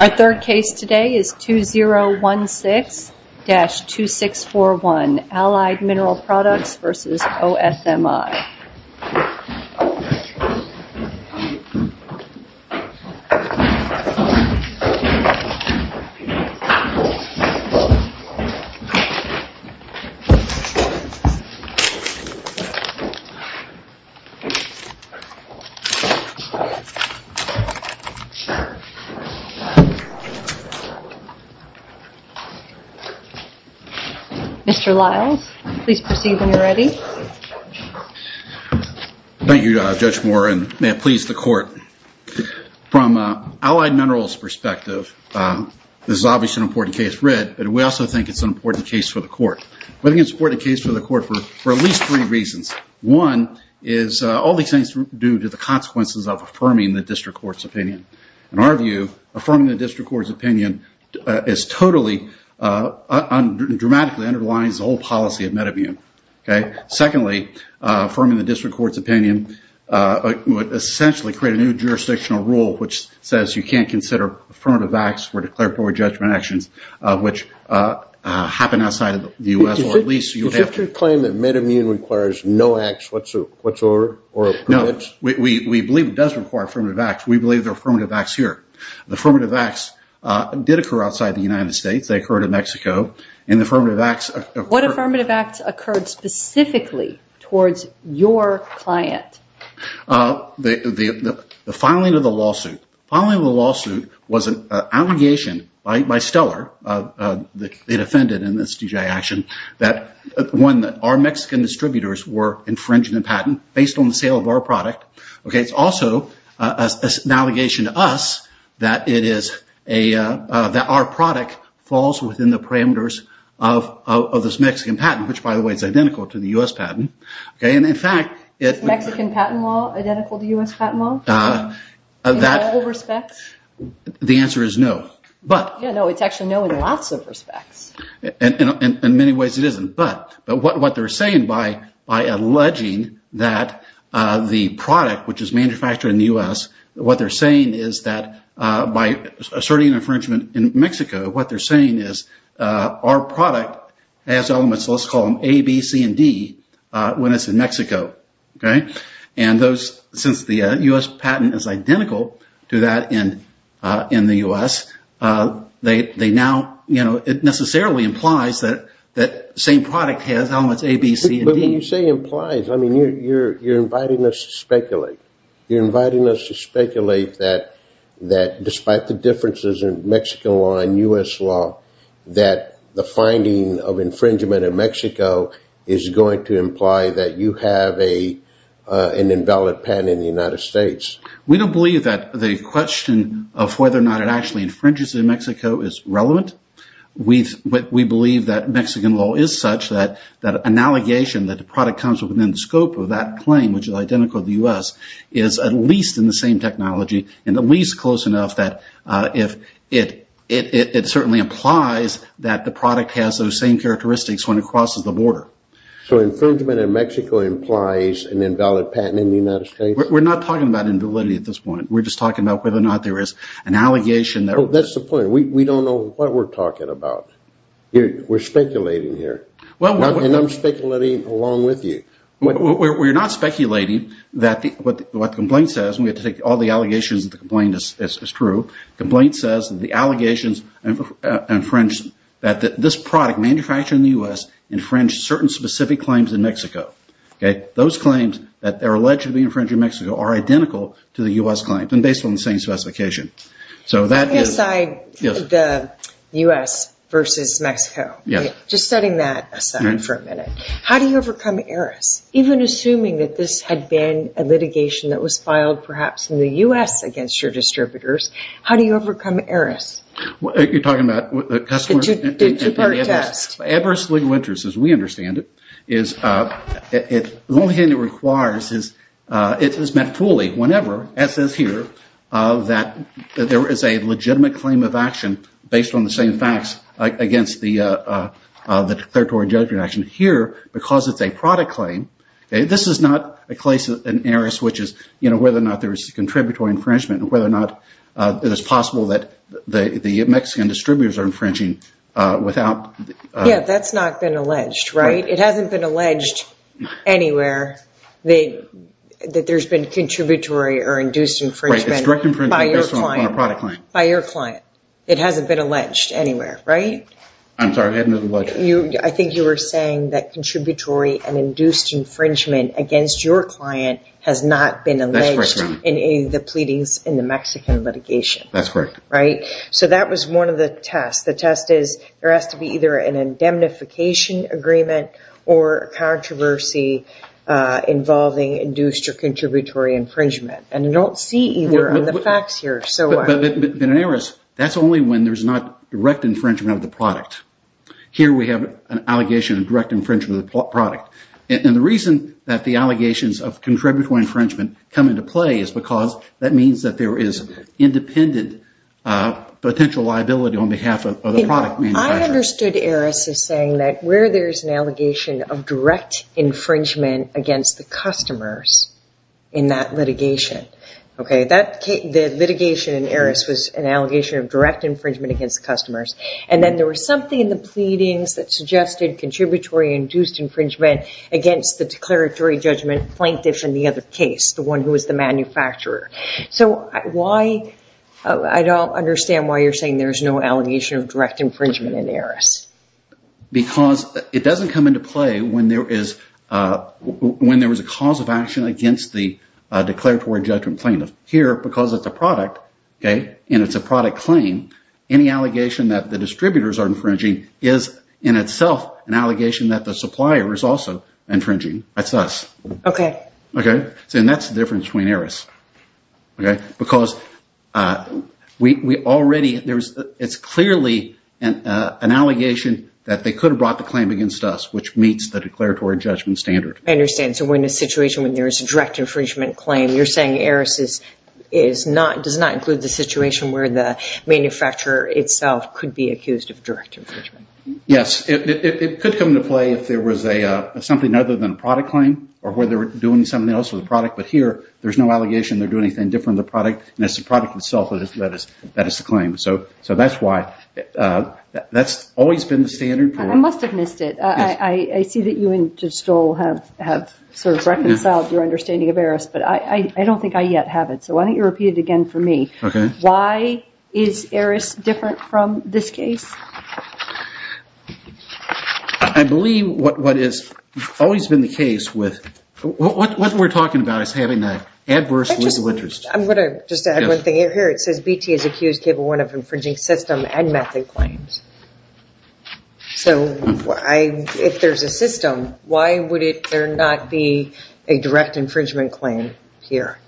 Our third case today is 2016-2641, Allied Mineral Products v. OSMI. Mr. Lyles, please proceed when you're ready. Thank you, Judge Moore, and may it please the Court. From Allied Minerals' perspective, this is obviously an important case for it, but we also think it's an important case for the Court. We think it's an important case for the Court for at least three reasons. One is all these things are due to the consequences of affirming the district court's opinion. In our view, affirming the district court's opinion is totally, dramatically underlines the whole policy of MedImmune. Secondly, affirming the district court's opinion would essentially create a new jurisdictional rule which says you can't consider affirmative acts or declaratory judgment actions, which happen outside of the U.S. or at least you have to... Does your claim that MedImmune requires no acts whatsoever or permits? No. We believe it does require affirmative acts. We believe there are affirmative acts here. The affirmative acts did occur outside the United States. They occurred in Mexico. And affirmative acts... What affirmative acts occurred specifically towards your client? The filing of the lawsuit. The filing of the lawsuit was an allegation by Steller, the defendant in this DGI action, that our Mexican distributors were infringing the patent based on the sale of our product. It's also an allegation to us that our product falls within the parameters of this Mexican patent, which by the way is identical to the U.S. patent. Is Mexican patent law identical to U.S. patent law in all respects? The answer is no. It's actually no in lots of respects. In many ways it isn't. But what they're saying by alleging that the product, which is manufactured in the U.S., what they're saying is that by asserting infringement in Mexico, what they're saying is our product has elements, let's call them A, B, C, and D, when it's in Mexico. Since the U.S. patent is identical to that in the U.S., it necessarily implies that the same product has elements A, B, C, and D. When you say implies, you're inviting us to speculate. You're inviting us to speculate that despite the differences in Mexican law and U.S. law, that the finding of infringement in Mexico is going to imply that you have an invalid patent in the United States. We don't believe that the question of whether or not it actually infringes in Mexico is relevant. We believe that Mexican law is such that an allegation that the product comes within the scope of that claim, which is identical to the U.S., is at least in the same technology and at least close enough that it certainly implies that the product has those same characteristics when it crosses the border. So infringement in Mexico implies an invalid patent in the United States? We're not talking about invalidity at this point. We're just talking about whether or not there is an allegation. That's the point. We don't know what we're talking about. We're speculating here. And I'm speculating along with you. We're not speculating what the complaint says. We have to take all the allegations that the complaint is true. The complaint says that this product manufactured in the U.S. infringed certain specific claims in Mexico. Those claims that are allegedly infringed in Mexico are identical to the U.S. claims and based on the same specification. Setting aside the U.S. versus Mexico, just setting that aside for a minute, how do you overcome ERAS? Even assuming that this had been a litigation that was filed perhaps in the U.S. against your distributors, how do you overcome ERAS? You're talking about the customer? The two-part test. The adverse legal interest, as we understand it, the only thing it requires is it is met fully whenever, as is here, that there is a legitimate claim of action based on the same facts against the declaratory judgment action. Here, because it's a product claim, this is not a case in ERAS which is whether or not there is contributory infringement and whether or not it is possible that the Mexican distributors are infringing without... Yeah, that's not been alleged, right? It hasn't been alleged anywhere that there's been contributory or induced infringement by your client. Based on a product claim. By your client. It hasn't been alleged anywhere, right? I'm sorry, I hadn't been alleged. I think you were saying that contributory and induced infringement against your client has not been alleged in any of the pleadings in the Mexican litigation. That's correct. Right? So that was one of the tests. The test is there has to be either an indemnification agreement or controversy involving induced or contributory infringement. And you don't see either on the facts here. But in ERAS, that's only when there's not direct infringement of the product. Here we have an allegation of direct infringement of the product. And the reason that the allegations of contributory infringement come into play is because that means that there is independent potential liability on behalf of the product manufacturer. I understood ERAS as saying that where there's an allegation of direct infringement against the customers in that litigation. The litigation in ERAS was an allegation of direct infringement against customers. And then there was something in the pleadings that suggested contributory induced infringement against the declaratory judgment plaintiff in the other case, the one who was the manufacturer. So I don't understand why you're saying there's no allegation of direct infringement in ERAS. Because it doesn't come into play when there is a cause of action against the declaratory judgment plaintiff. Here, because it's a product, okay, and it's a product claim, any allegation that the distributors are infringing is in itself an allegation that the supplier is also infringing. That's us. Okay. Okay. And that's the difference between ERAS. Okay. Because we already – it's clearly an allegation that they could have brought the claim against us, which meets the declaratory judgment standard. I understand. So in a situation when there is a direct infringement claim, you're saying ERAS does not include the situation where the manufacturer itself could be accused of direct infringement. Yes. It could come into play if there was something other than a product claim or where they were doing something else with the product. But here, there's no allegation they're doing anything different with the product, and it's the product itself that is the claim. So that's why – that's always been the standard. I must have missed it. I see that you and Judge Stoll have sort of reconciled your understanding of ERAS, but I don't think I yet have it, so why don't you repeat it again for me. Okay. Why is ERAS different from this case? I believe what has always been the case with – what we're talking about is having an adverse legal interest. I'm going to just add one thing here. It says BT has accused Cable 1 of infringing system and method claims. So if there's a system, why would there not be a direct infringement claim here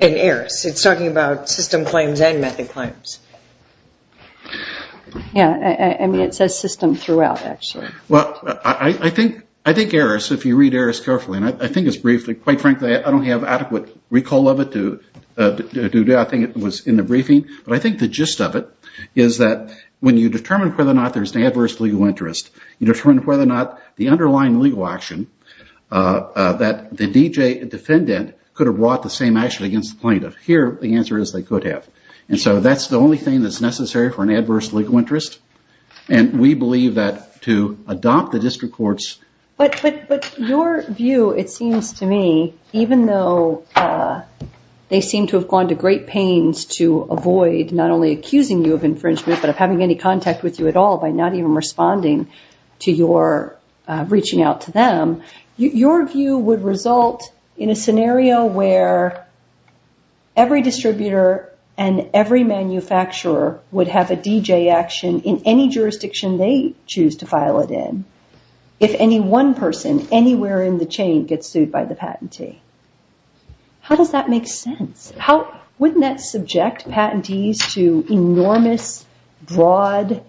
in ERAS? It's talking about system claims and method claims. Yeah. I mean, it says system throughout, actually. Well, I think ERAS, if you read ERAS carefully, and I think it's briefly – quite frankly, I don't have adequate recall of it due to – I think it was in the briefing. But I think the gist of it is that when you determine whether or not there's an adverse legal interest, you determine whether or not the underlying legal action that the D.J. defendant could have brought the same action against the plaintiff. Here, the answer is they could have. And so that's the only thing that's necessary for an adverse legal interest, and we believe that to adopt the district courts – But your view, it seems to me, even though they seem to have gone to great pains to avoid not only accusing you of infringement, but of having any contact with you at all by not even responding to your reaching out to them, your view would result in a scenario where every distributor and every manufacturer would have a D.J. action in any jurisdiction they choose to file it in. If any one person anywhere in the chain gets sued by the patentee. How does that make sense? Wouldn't that subject patentees to enormous, broad,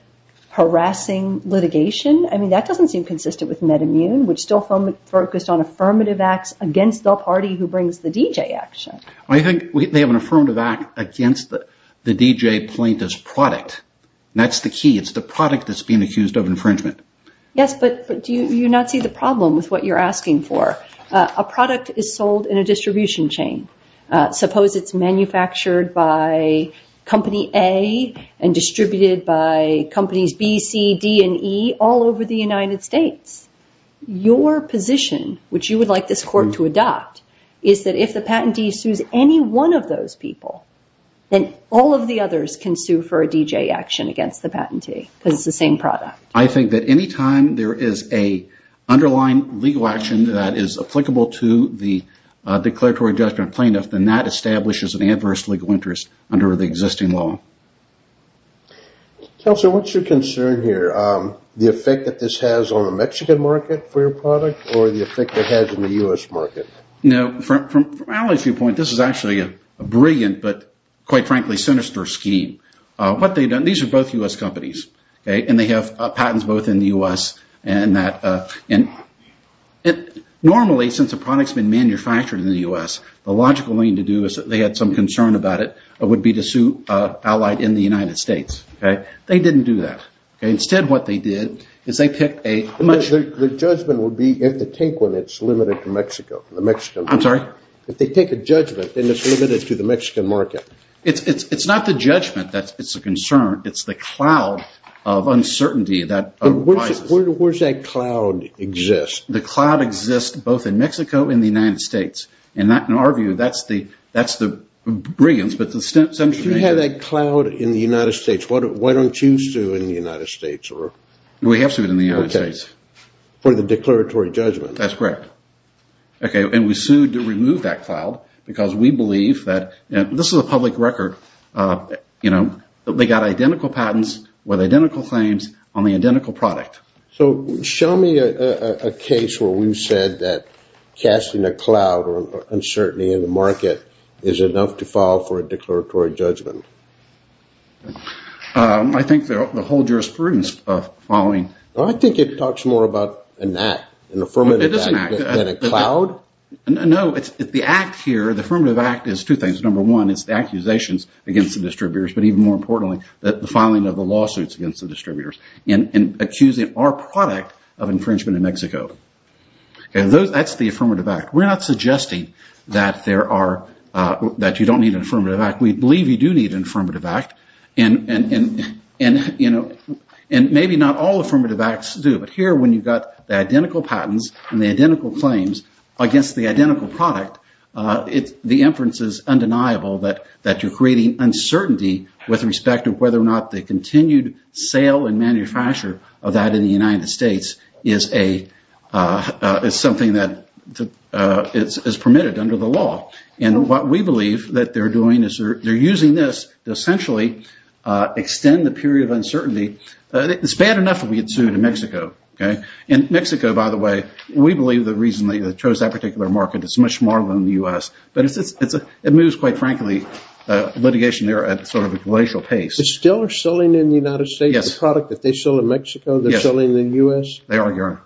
harassing litigation? I mean, that doesn't seem consistent with MedImmune, which still focused on affirmative acts against the party who brings the D.J. action. I think they have an affirmative act against the D.J. plaintiff's product. That's the key. It's the product that's being accused of infringement. Yes, but do you not see the problem with what you're asking for? A product is sold in a distribution chain. Suppose it's manufactured by Company A and distributed by Companies B, C, D, and E all over the United States. Your position, which you would like this court to adopt, is that if the patentee sues any one of those people, then all of the others can sue for a D.J. action against the patentee because it's the same product. I think that any time there is an underlying legal action that is applicable to the declaratory judgment plaintiff, then that establishes an adverse legal interest under the existing law. Counselor, what's your concern here? The effect that this has on the Mexican market for your product or the effect it has on the U.S. market? From Alan's viewpoint, this is actually a brilliant but, quite frankly, sinister scheme. These are both U.S. companies, and they have patents both in the U.S. Normally, since a product has been manufactured in the U.S., the logical thing to do is if they had some concern about it, it would be to sue an ally in the United States. They didn't do that. Instead, what they did is they picked a much- The judgment would be if they take one, it's limited to Mexico. I'm sorry? If they take a judgment, then it's limited to the Mexican market. It's not the judgment that's a concern. It's the cloud of uncertainty that arises. Where does that cloud exist? The cloud exists both in Mexico and the United States. In our view, that's the brilliance. If you have that cloud in the United States, why don't you sue in the United States? We have sued in the United States. For the declaratory judgment. That's correct. We sued to remove that cloud because we believe that- This is a public record. They got identical patents with identical claims on the identical product. Show me a case where we've said that casting a cloud or uncertainty in the market is enough to file for a declaratory judgment. I think the whole jurisprudence following- I think it talks more about an act, an affirmative act. Than a cloud? No. The act here, the affirmative act, is two things. Number one, it's the accusations against the distributors. But even more importantly, the filing of the lawsuits against the distributors. And accusing our product of infringement in Mexico. That's the affirmative act. We're not suggesting that you don't need an affirmative act. We believe you do need an affirmative act. And maybe not all affirmative acts do. But here, when you've got the identical patents and the identical claims against the identical product, the inference is undeniable that you're creating uncertainty with respect to whether or not the continued sale and manufacture of that in the United States is something that is permitted under the law. And what we believe that they're doing is they're using this to essentially extend the period of uncertainty. It's bad enough that we had sued in Mexico. And Mexico, by the way, we believe the reason they chose that particular market is it's much smarter than the U.S. But it moves, quite frankly, litigation there at sort of a glacial pace. But still they're selling in the United States the product that they sold in Mexico? Yes. They're selling in the U.S.? They are.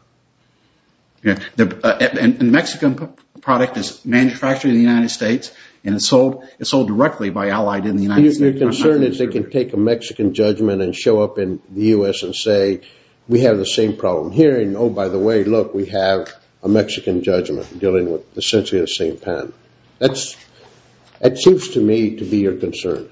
And the Mexican product is manufactured in the United States. And it's sold directly by Allied in the United States. So your concern is they can take a Mexican judgment and show up in the U.S. and say, we have the same problem here. And, oh, by the way, look, we have a Mexican judgment dealing with essentially the same patent. That seems to me to be your concern.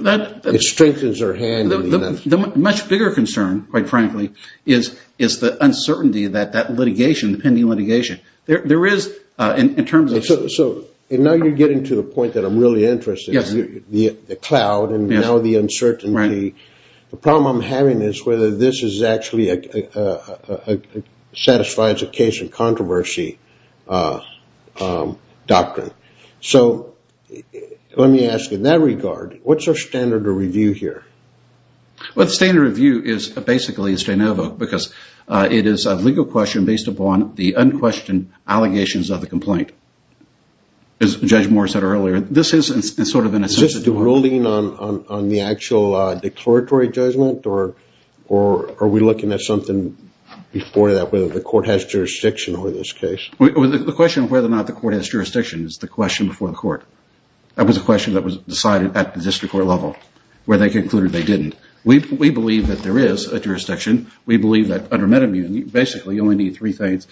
It strengthens their hand in the United States. The much bigger concern, quite frankly, is the uncertainty that that litigation, the pending litigation, there is in terms of – So now you're getting to the point that I'm really interested. Yes. The cloud and now the uncertainty. Right. The problem I'm having is whether this actually satisfies a case in controversy doctrine. So let me ask, in that regard, what's our standard of review here? Well, the standard of review is basically a strain of it because it is a legal question based upon the unquestioned allegations of the complaint. As Judge Moore said earlier, this is sort of an assessment. Is this a ruling on the actual declaratory judgment, or are we looking at something before that, whether the court has jurisdiction over this case? The question of whether or not the court has jurisdiction is the question before the court. That was a question that was decided at the district court level where they concluded they didn't. We believe that there is a jurisdiction. We believe that under MedImmune, basically, you only need three things.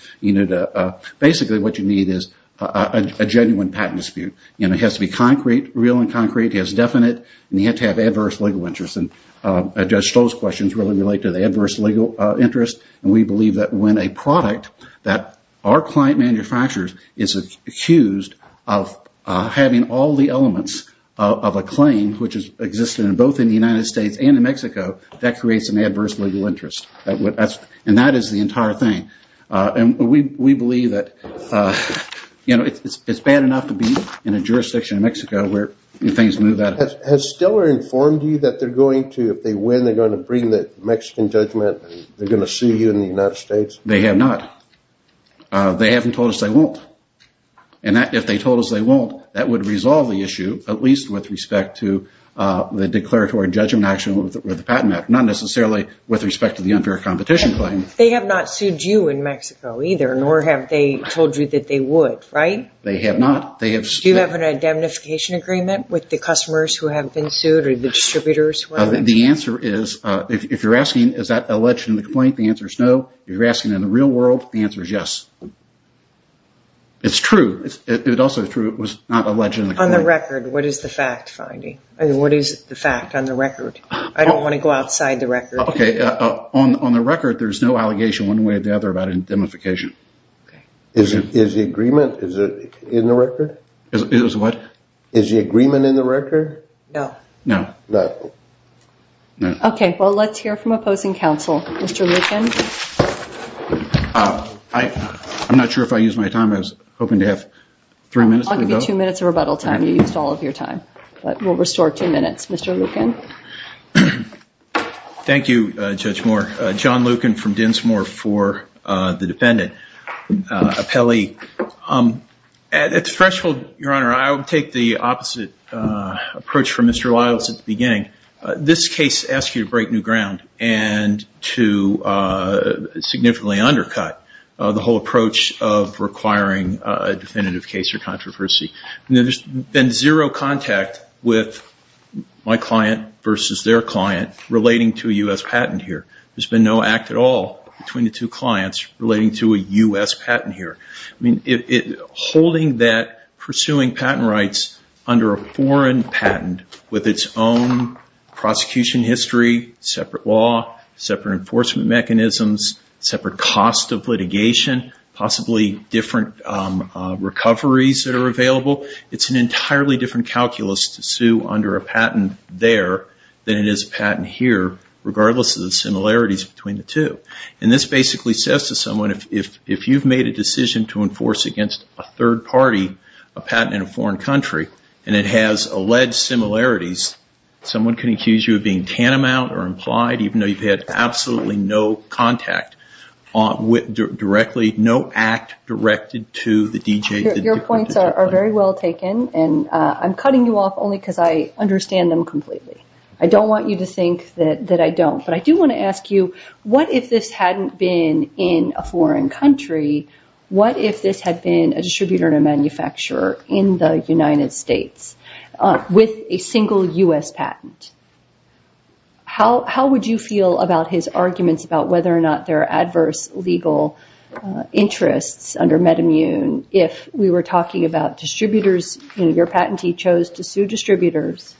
Basically, what you need is a genuine patent dispute. It has to be concrete, real and concrete. It has to be definite, and you have to have adverse legal interest. Judge Stoll's questions really relate to the adverse legal interest, and we believe that when a product that our client manufactures is accused of having all the elements of a claim, which has existed both in the United States and in Mexico, that creates an adverse legal interest, and that is the entire thing. We believe that it is bad enough to be in a jurisdiction in Mexico where things move that way. Has Steller informed you that if they win, they are going to bring the Mexican judgment and they are going to sue you in the United States? They have not. They haven't told us they won't. If they told us they won't, that would resolve the issue, at least with respect to the declaratory judgment action with the patent act, not necessarily with respect to the unfair competition claim. They have not sued you in Mexico either, nor have they told you that they would, right? They have not. Do you have an identification agreement with the customers who have been sued or the distributors? The answer is, if you're asking is that alleged in the complaint, the answer is no. If you're asking in the real world, the answer is yes. It's true. It's also true it was not alleged in the complaint. On the record, what is the fact finding? I mean, what is the fact on the record? I don't want to go outside the record. On the record, there's no allegation one way or the other about indemnification. Is the agreement in the record? Is what? Is the agreement in the record? No. No. No. Okay, well, let's hear from opposing counsel. Mr. Lucan? I'm not sure if I used my time. I was hoping to have three minutes to go. I'll give you two minutes of rebuttal time. You used all of your time, but we'll restore two minutes. Mr. Lucan? Thank you, Judge Moore. John Lucan from Dinsmore for the defendant. Appelli, at the threshold, Your Honor, I would take the opposite approach from Mr. Lyles at the beginning. This case asks you to break new ground and to significantly undercut the whole approach of requiring a definitive case or controversy. There's been zero contact with my client versus their client relating to a U.S. patent here. There's been no act at all between the two clients relating to a U.S. patent here. Holding that, pursuing patent rights under a foreign patent with its own prosecution history, separate law, separate enforcement mechanisms, separate cost of litigation, possibly different recoveries that are available, it's an entirely different calculus to sue under a patent there than it is a patent here, regardless of the similarities between the two. And this basically says to someone, if you've made a decision to enforce against a third party, a patent in a foreign country, and it has alleged similarities, someone can accuse you of being tantamount or implied, even though you've had absolutely no contact directly, no act directed to the DJ. Your points are very well taken, and I'm cutting you off only because I understand them completely. I don't want you to think that I don't. But I do want to ask you, what if this hadn't been in a foreign country? What if this had been a distributor and a manufacturer in the United States with a single U.S. patent? How would you feel about his arguments about whether or not there are adverse legal interests under MedImmune if we were talking about distributors? Your patentee chose to sue distributors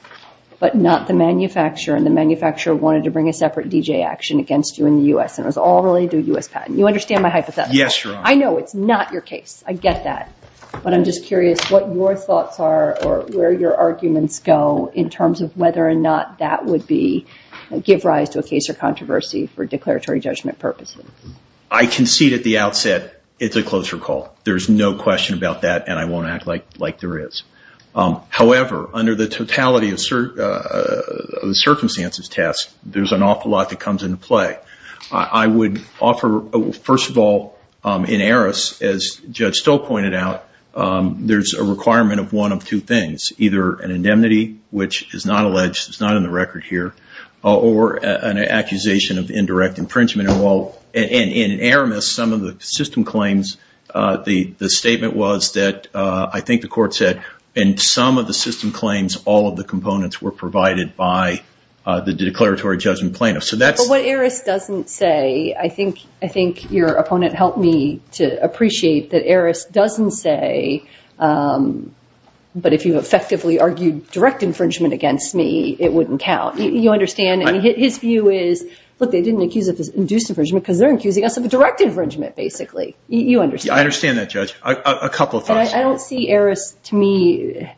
but not the manufacturer, and the manufacturer wanted to bring a separate DJ action against you in the U.S., and it was all related to a U.S. patent. You understand my hypothesis? Yes, Your Honor. I know it's not your case. I get that. But I'm just curious what your thoughts are or where your arguments go in terms of whether or not that would give rise to a case or controversy for declaratory judgment purposes. I concede at the outset it's a closer call. There's no question about that, and I won't act like there is. However, under the totality of the circumstances test, there's an awful lot that comes into play. I would offer, first of all, in Aris, as Judge Stoll pointed out, there's a requirement of one of two things, either an indemnity, which is not alleged, it's not on the record here, or an accusation of indirect infringement. In Aramis, some of the system claims, the statement was that, I think the court said, in some of the system claims, all of the components were provided by the declaratory judgment plaintiff. But what Aris doesn't say, I think your opponent helped me to appreciate that Aris doesn't say, but if you effectively argued direct infringement against me, it wouldn't count. You understand? His view is, look, they didn't accuse us of induced infringement because they're accusing us of direct infringement, basically. You understand? I understand that, Judge. A couple of things. I don't see Aris, to me,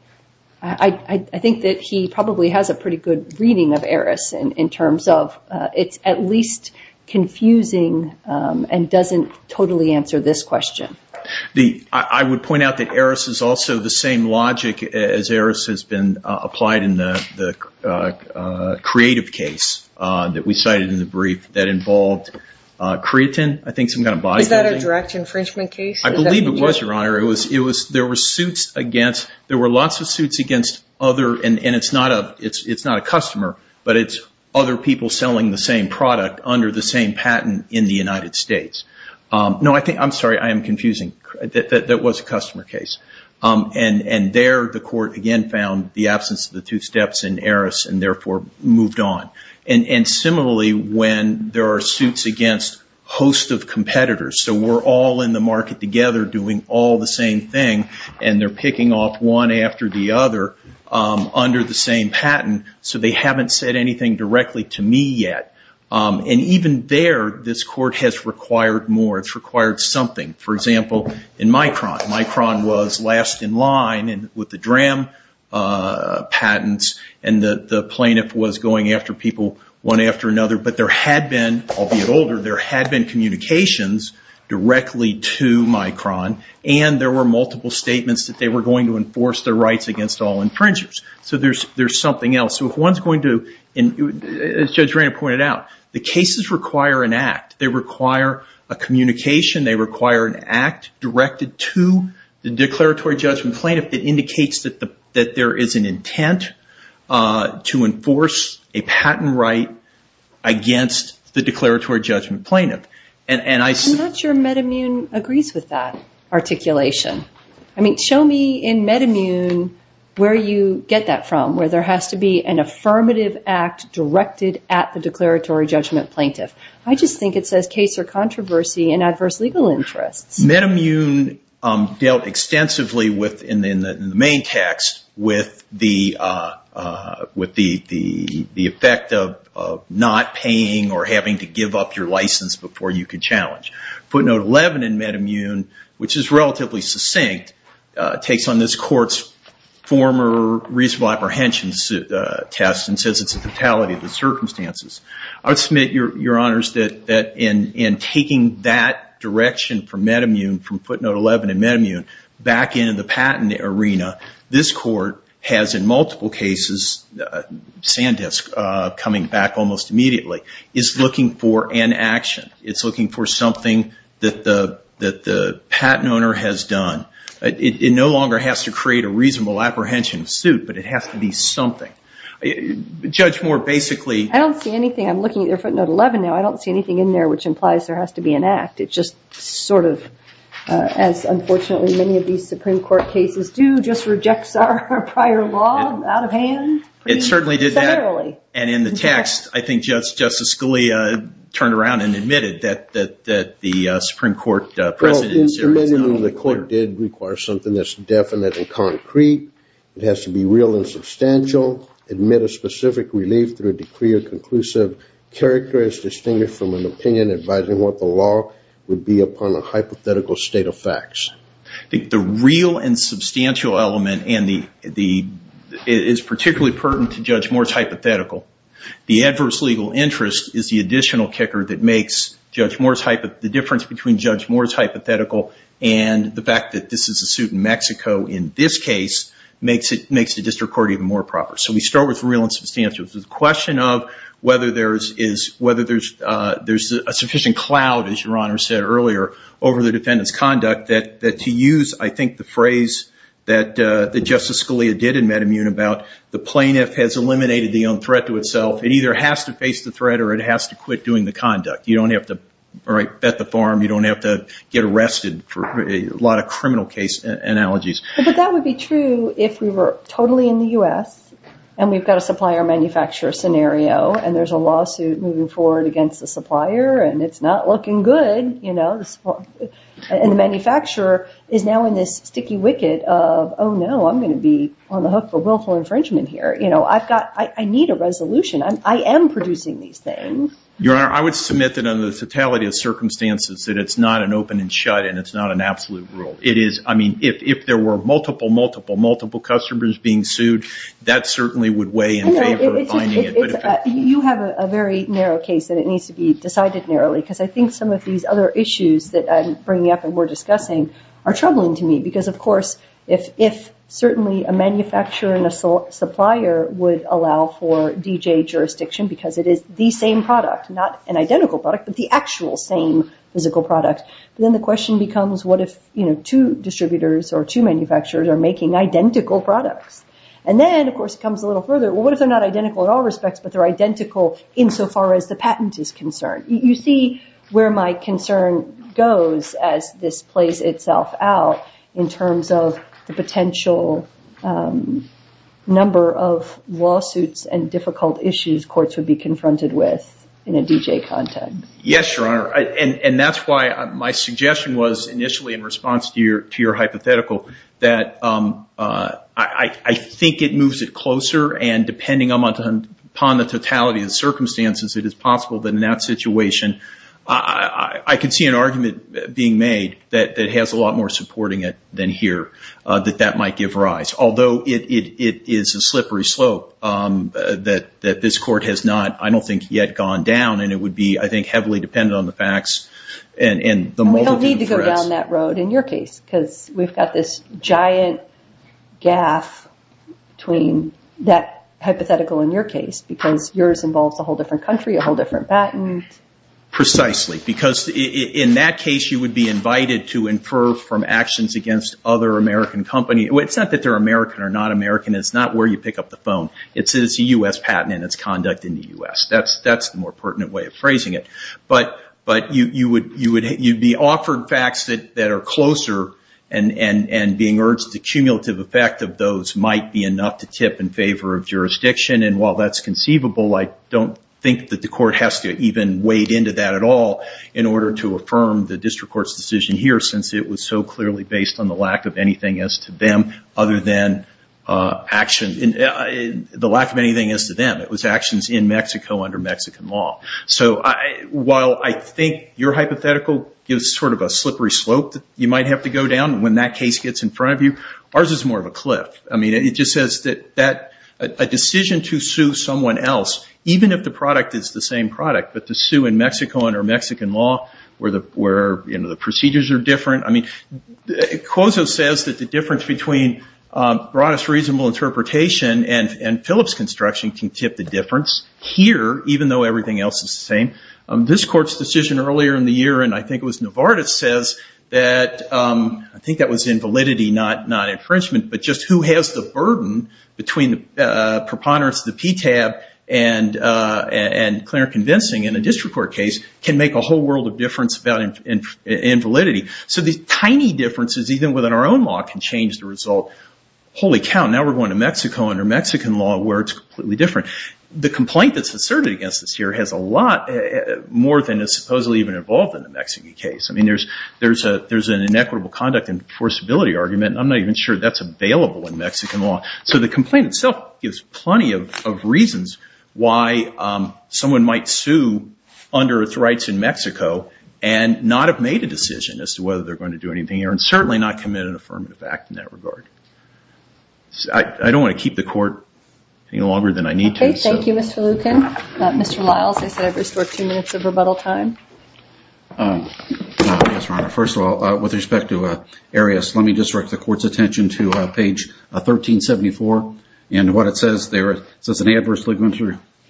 I think that he probably has a pretty good reading of Aris, in terms of it's at least confusing and doesn't totally answer this question. I would point out that Aris is also the same logic as Aris has been applied in the creative case that we cited in the brief, that involved creatine, I think some kind of body building. Is that a direct infringement case? I believe it was, Your Honor. There were lots of suits against other, and it's not a customer, but it's other people selling the same product under the same patent in the United States. No, I'm sorry, I am confusing. That was a customer case. And there the court, again, found the absence of the two steps in Aris and therefore moved on. And similarly, when there are suits against a host of competitors, so we're all in the market together doing all the same thing, and they're picking off one after the other under the same patent, so they haven't said anything directly to me yet. And even there, this court has required more. It's required something. For example, in Micron, Micron was last in line with the DRAM patents, and the plaintiff was going after people one after another. But there had been, albeit older, there had been communications directly to Micron, and there were multiple statements that they were going to enforce their rights against all infringers. So there's something else. So if one's going to, as Judge Rainer pointed out, the cases require an act. They require a communication. They require an act directed to the declaratory judgment plaintiff that indicates that there is an intent to enforce a patent right against the declaratory judgment plaintiff. I'm not sure MedImmune agrees with that articulation. I mean, show me in MedImmune where you get that from, where there has to be an affirmative act directed at the declaratory judgment plaintiff. I just think it says case or controversy in adverse legal interests. MedImmune dealt extensively within the main text with the effect of not paying or having to give up your license before you could challenge. Footnote 11 in MedImmune, which is relatively succinct, takes on this court's former reasonable apprehension test and says it's a totality of the circumstances. I would submit, Your Honors, that in taking that direction from MedImmune, from footnote 11 in MedImmune, back into the patent arena, this court has in multiple cases, Sandisk coming back almost immediately, is looking for an action. It's looking for something that the patent owner has done. It no longer has to create a reasonable apprehension suit, but it has to be something. Judge Moore, basically. I don't see anything. I'm looking at your footnote 11 now. I don't see anything in there which implies there has to be an act. It just sort of, as unfortunately many of these Supreme Court cases do, just rejects our prior law out of hand. It certainly did that. And in the text, I think Justice Scalia turned around and admitted that the Supreme Court presidency. In MedImmune, the court did require something that's definite and concrete. It has to be real and substantial, admit a specific relief through a decree or conclusive character as distinguished from an opinion advising what the law would be upon a hypothetical state of facts. I think the real and substantial element is particularly pertinent to Judge Moore's hypothetical. The adverse legal interest is the additional kicker that makes Judge Moore's hypothetical, the difference between Judge Moore's hypothetical and the fact that this is a suit in Mexico in this case makes the district court even more proper. So we start with real and substantial. The question of whether there's a sufficient cloud, as Your Honor said earlier, over the defendant's conduct that to use, I think, the phrase that Justice Scalia did in MedImmune about the plaintiff has eliminated the own threat to itself. It either has to face the threat or it has to quit doing the conduct. You don't have to bet the farm. You don't have to get arrested for a lot of criminal case analogies. But that would be true if we were totally in the U.S. and we've got a supplier-manufacturer scenario and there's a lawsuit moving forward against the supplier and it's not looking good. And the manufacturer is now in this sticky wicket of, oh, no, I'm going to be on the hook for willful infringement here. I need a resolution. I am producing these things. Your Honor, I would submit that under the totality of circumstances that it's not an open and shut and it's not an absolute rule. I mean, if there were multiple, multiple, multiple customers being sued, that certainly would weigh in favor of finding it. You have a very narrow case and it needs to be decided narrowly because I think some of these other issues that I'm bringing up and we're discussing are troubling to me because, of course, if certainly a manufacturer and a supplier would allow for DJ jurisdiction because it is the same product, not an identical product, but the actual same physical product, then the question becomes what if two distributors or two manufacturers are making identical products? And then, of course, it comes a little further. Well, what if they're not identical in all respects but they're identical insofar as the patent is concerned? You see where my concern goes as this plays itself out in terms of the potential number of lawsuits and difficult issues courts would be confronted with in a DJ context. Yes, Your Honor, and that's why my suggestion was initially in response to your hypothetical that I think it moves it closer and depending upon the totality of circumstances, it is possible that in that situation I could see an argument being made that has a lot more supporting it than here, that that might give rise. Although it is a slippery slope that this court has not, I don't think, yet gone down and it would be, I think, heavily dependent on the facts and the multitude of threats. And we don't need to go down that road in your case because we've got this giant gaffe between that hypothetical in your case because yours involves a whole different country, a whole different patent. Precisely, because in that case you would be invited to infer from actions against other American companies. It's not that they're American or not American. It's not where you pick up the phone. It's a U.S. patent and its conduct in the U.S. That's the more pertinent way of phrasing it. But you'd be offered facts that are closer and being urged the cumulative effect of those might be enough to tip in favor of jurisdiction. And while that's conceivable, I don't think that the court has to even wade into that at all in order to affirm the district court's decision here since it was so clearly based on the lack of anything as to them other than action, the lack of anything as to them. It was actions in Mexico under Mexican law. So while I think your hypothetical gives sort of a slippery slope that you might have to go down when that case gets in front of you, ours is more of a cliff. I mean, it just says that a decision to sue someone else, even if the product is the same product, but to sue in Mexico under Mexican law where the procedures are different. I mean, Cuozo says that the difference between broadest reasonable interpretation and Phillips construction can tip the difference here, even though everything else is the same. This court's decision earlier in the year, and I think it was Novartis says that, I think that was invalidity, not infringement. But just who has the burden between preponderance of the PTAB and clear convincing in a district court case can make a whole world of difference about invalidity. So these tiny differences, even within our own law, can change the result. Holy cow, now we're going to Mexico under Mexican law where it's completely different. The complaint that's asserted against us here has a lot more than is supposedly even involved in the Mexican case. I mean, there's an inequitable conduct enforceability argument, and I'm not even sure that's available in Mexican law. So the complaint itself gives plenty of reasons why someone might sue under its rights in Mexico and not have made a decision as to whether they're going to do anything here and certainly not commit an affirmative act in that regard. I don't want to keep the court any longer than I need to. Thank you, Mr. Lucan. Mr. Lyles, I said I'd restore two minutes of rebuttal time. Yes, Your Honor. First of all, with respect to Arias, let me just direct the court's attention to page 1374. And what it says there, it says an adverse legal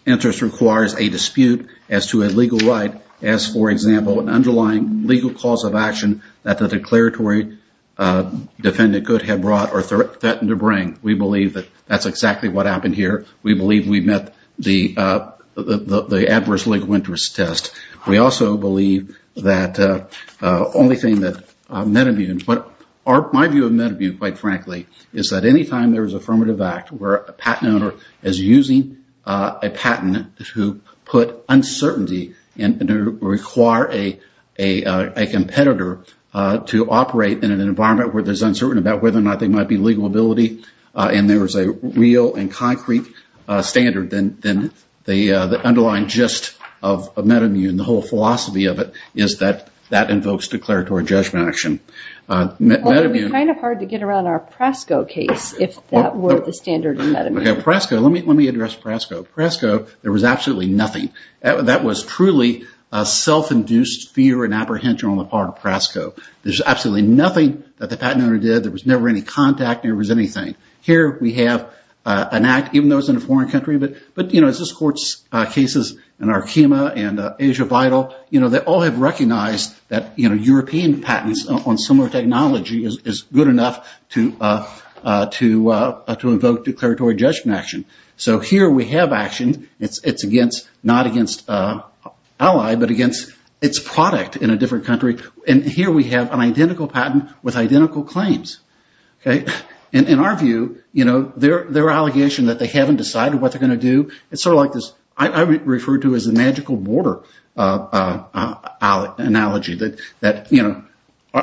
interest requires a dispute as to a legal right as, for example, an underlying legal cause of action that the declaratory defendant could have brought or threatened to bring. We believe that that's exactly what happened here. We believe we met the adverse legal interest test. We also believe that the only thing that Medibune, or my view of Medibune, quite frankly, is that any time there is an affirmative act where a patent owner is using a patent to put uncertainty and to require a competitor to operate in an environment where there's uncertainty about whether or not there might be legal ability and there is a real and concrete standard, then the underlying gist of Medibune, the whole philosophy of it, is that that invokes declaratory judgment action. It would be kind of hard to get around our Prasco case if that were the standard of Medibune. Okay, Prasco. Let me address Prasco. Prasco, there was absolutely nothing. That was truly self-induced fear and apprehension on the part of Prasco. There's absolutely nothing that the patent owner did. There was never any contact. There was anything. Here we have an act, even though it's in a foreign country, but, you know, as this Court's cases in Arkema and Asia Vital, you know, they all have recognized that, you know, So here we have action. It's against, not against an ally, but against its product in a different country. And here we have an identical patent with identical claims. Okay. And in our view, you know, their allegation that they haven't decided what they're going to do, it's sort of like this, I refer to it as a magical border analogy that, you know,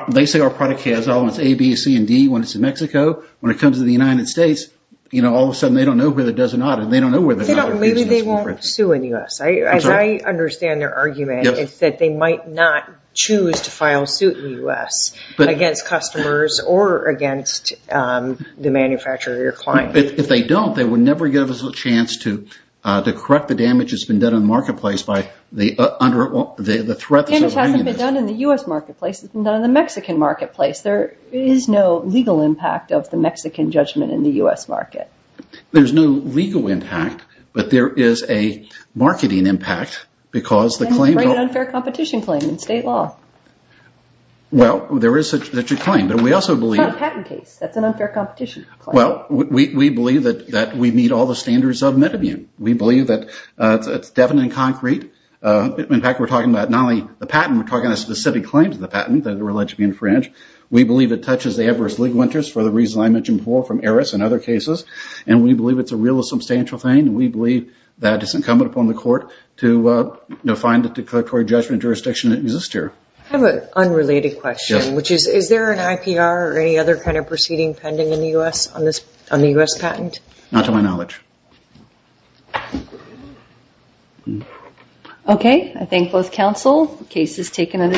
they say our product has elements A, B, C, and D when it's in Mexico. When it comes to the United States, you know, all of a sudden they don't know whether it does or not, and they don't know whether or not they're going to sue. Maybe they won't sue in the U.S. As I understand their argument, it's that they might not choose to file suit in the U.S. against customers or against the manufacturer or client. If they don't, they would never give us a chance to correct the damage that's been done in the marketplace by the threat that's over there. Damage hasn't been done in the U.S. marketplace. It's been done in the Mexican marketplace. There is no legal impact of the Mexican judgment in the U.S. market. There's no legal impact, but there is a marketing impact because the claim… And an unfair competition claim in state law. Well, there is such a claim, but we also believe… It's not a patent case. That's an unfair competition claim. Well, we believe that we meet all the standards of Medibune. We believe that it's definite and concrete. In fact, we're talking about not only the patent, we're talking about specific claims of the patent that are alleged to be infringed. We believe it touches the Everest League winters for the reasons I mentioned before from Eris and other cases, and we believe it's a real and substantial thing. We believe that it's incumbent upon the court to find a declaratory judgment jurisdiction that exists here. I have an unrelated question, which is, is there an IPR or any other kind of proceeding pending in the U.S. on the U.S. patent? Not to my knowledge. Okay. I thank both counsel. The case is taken under…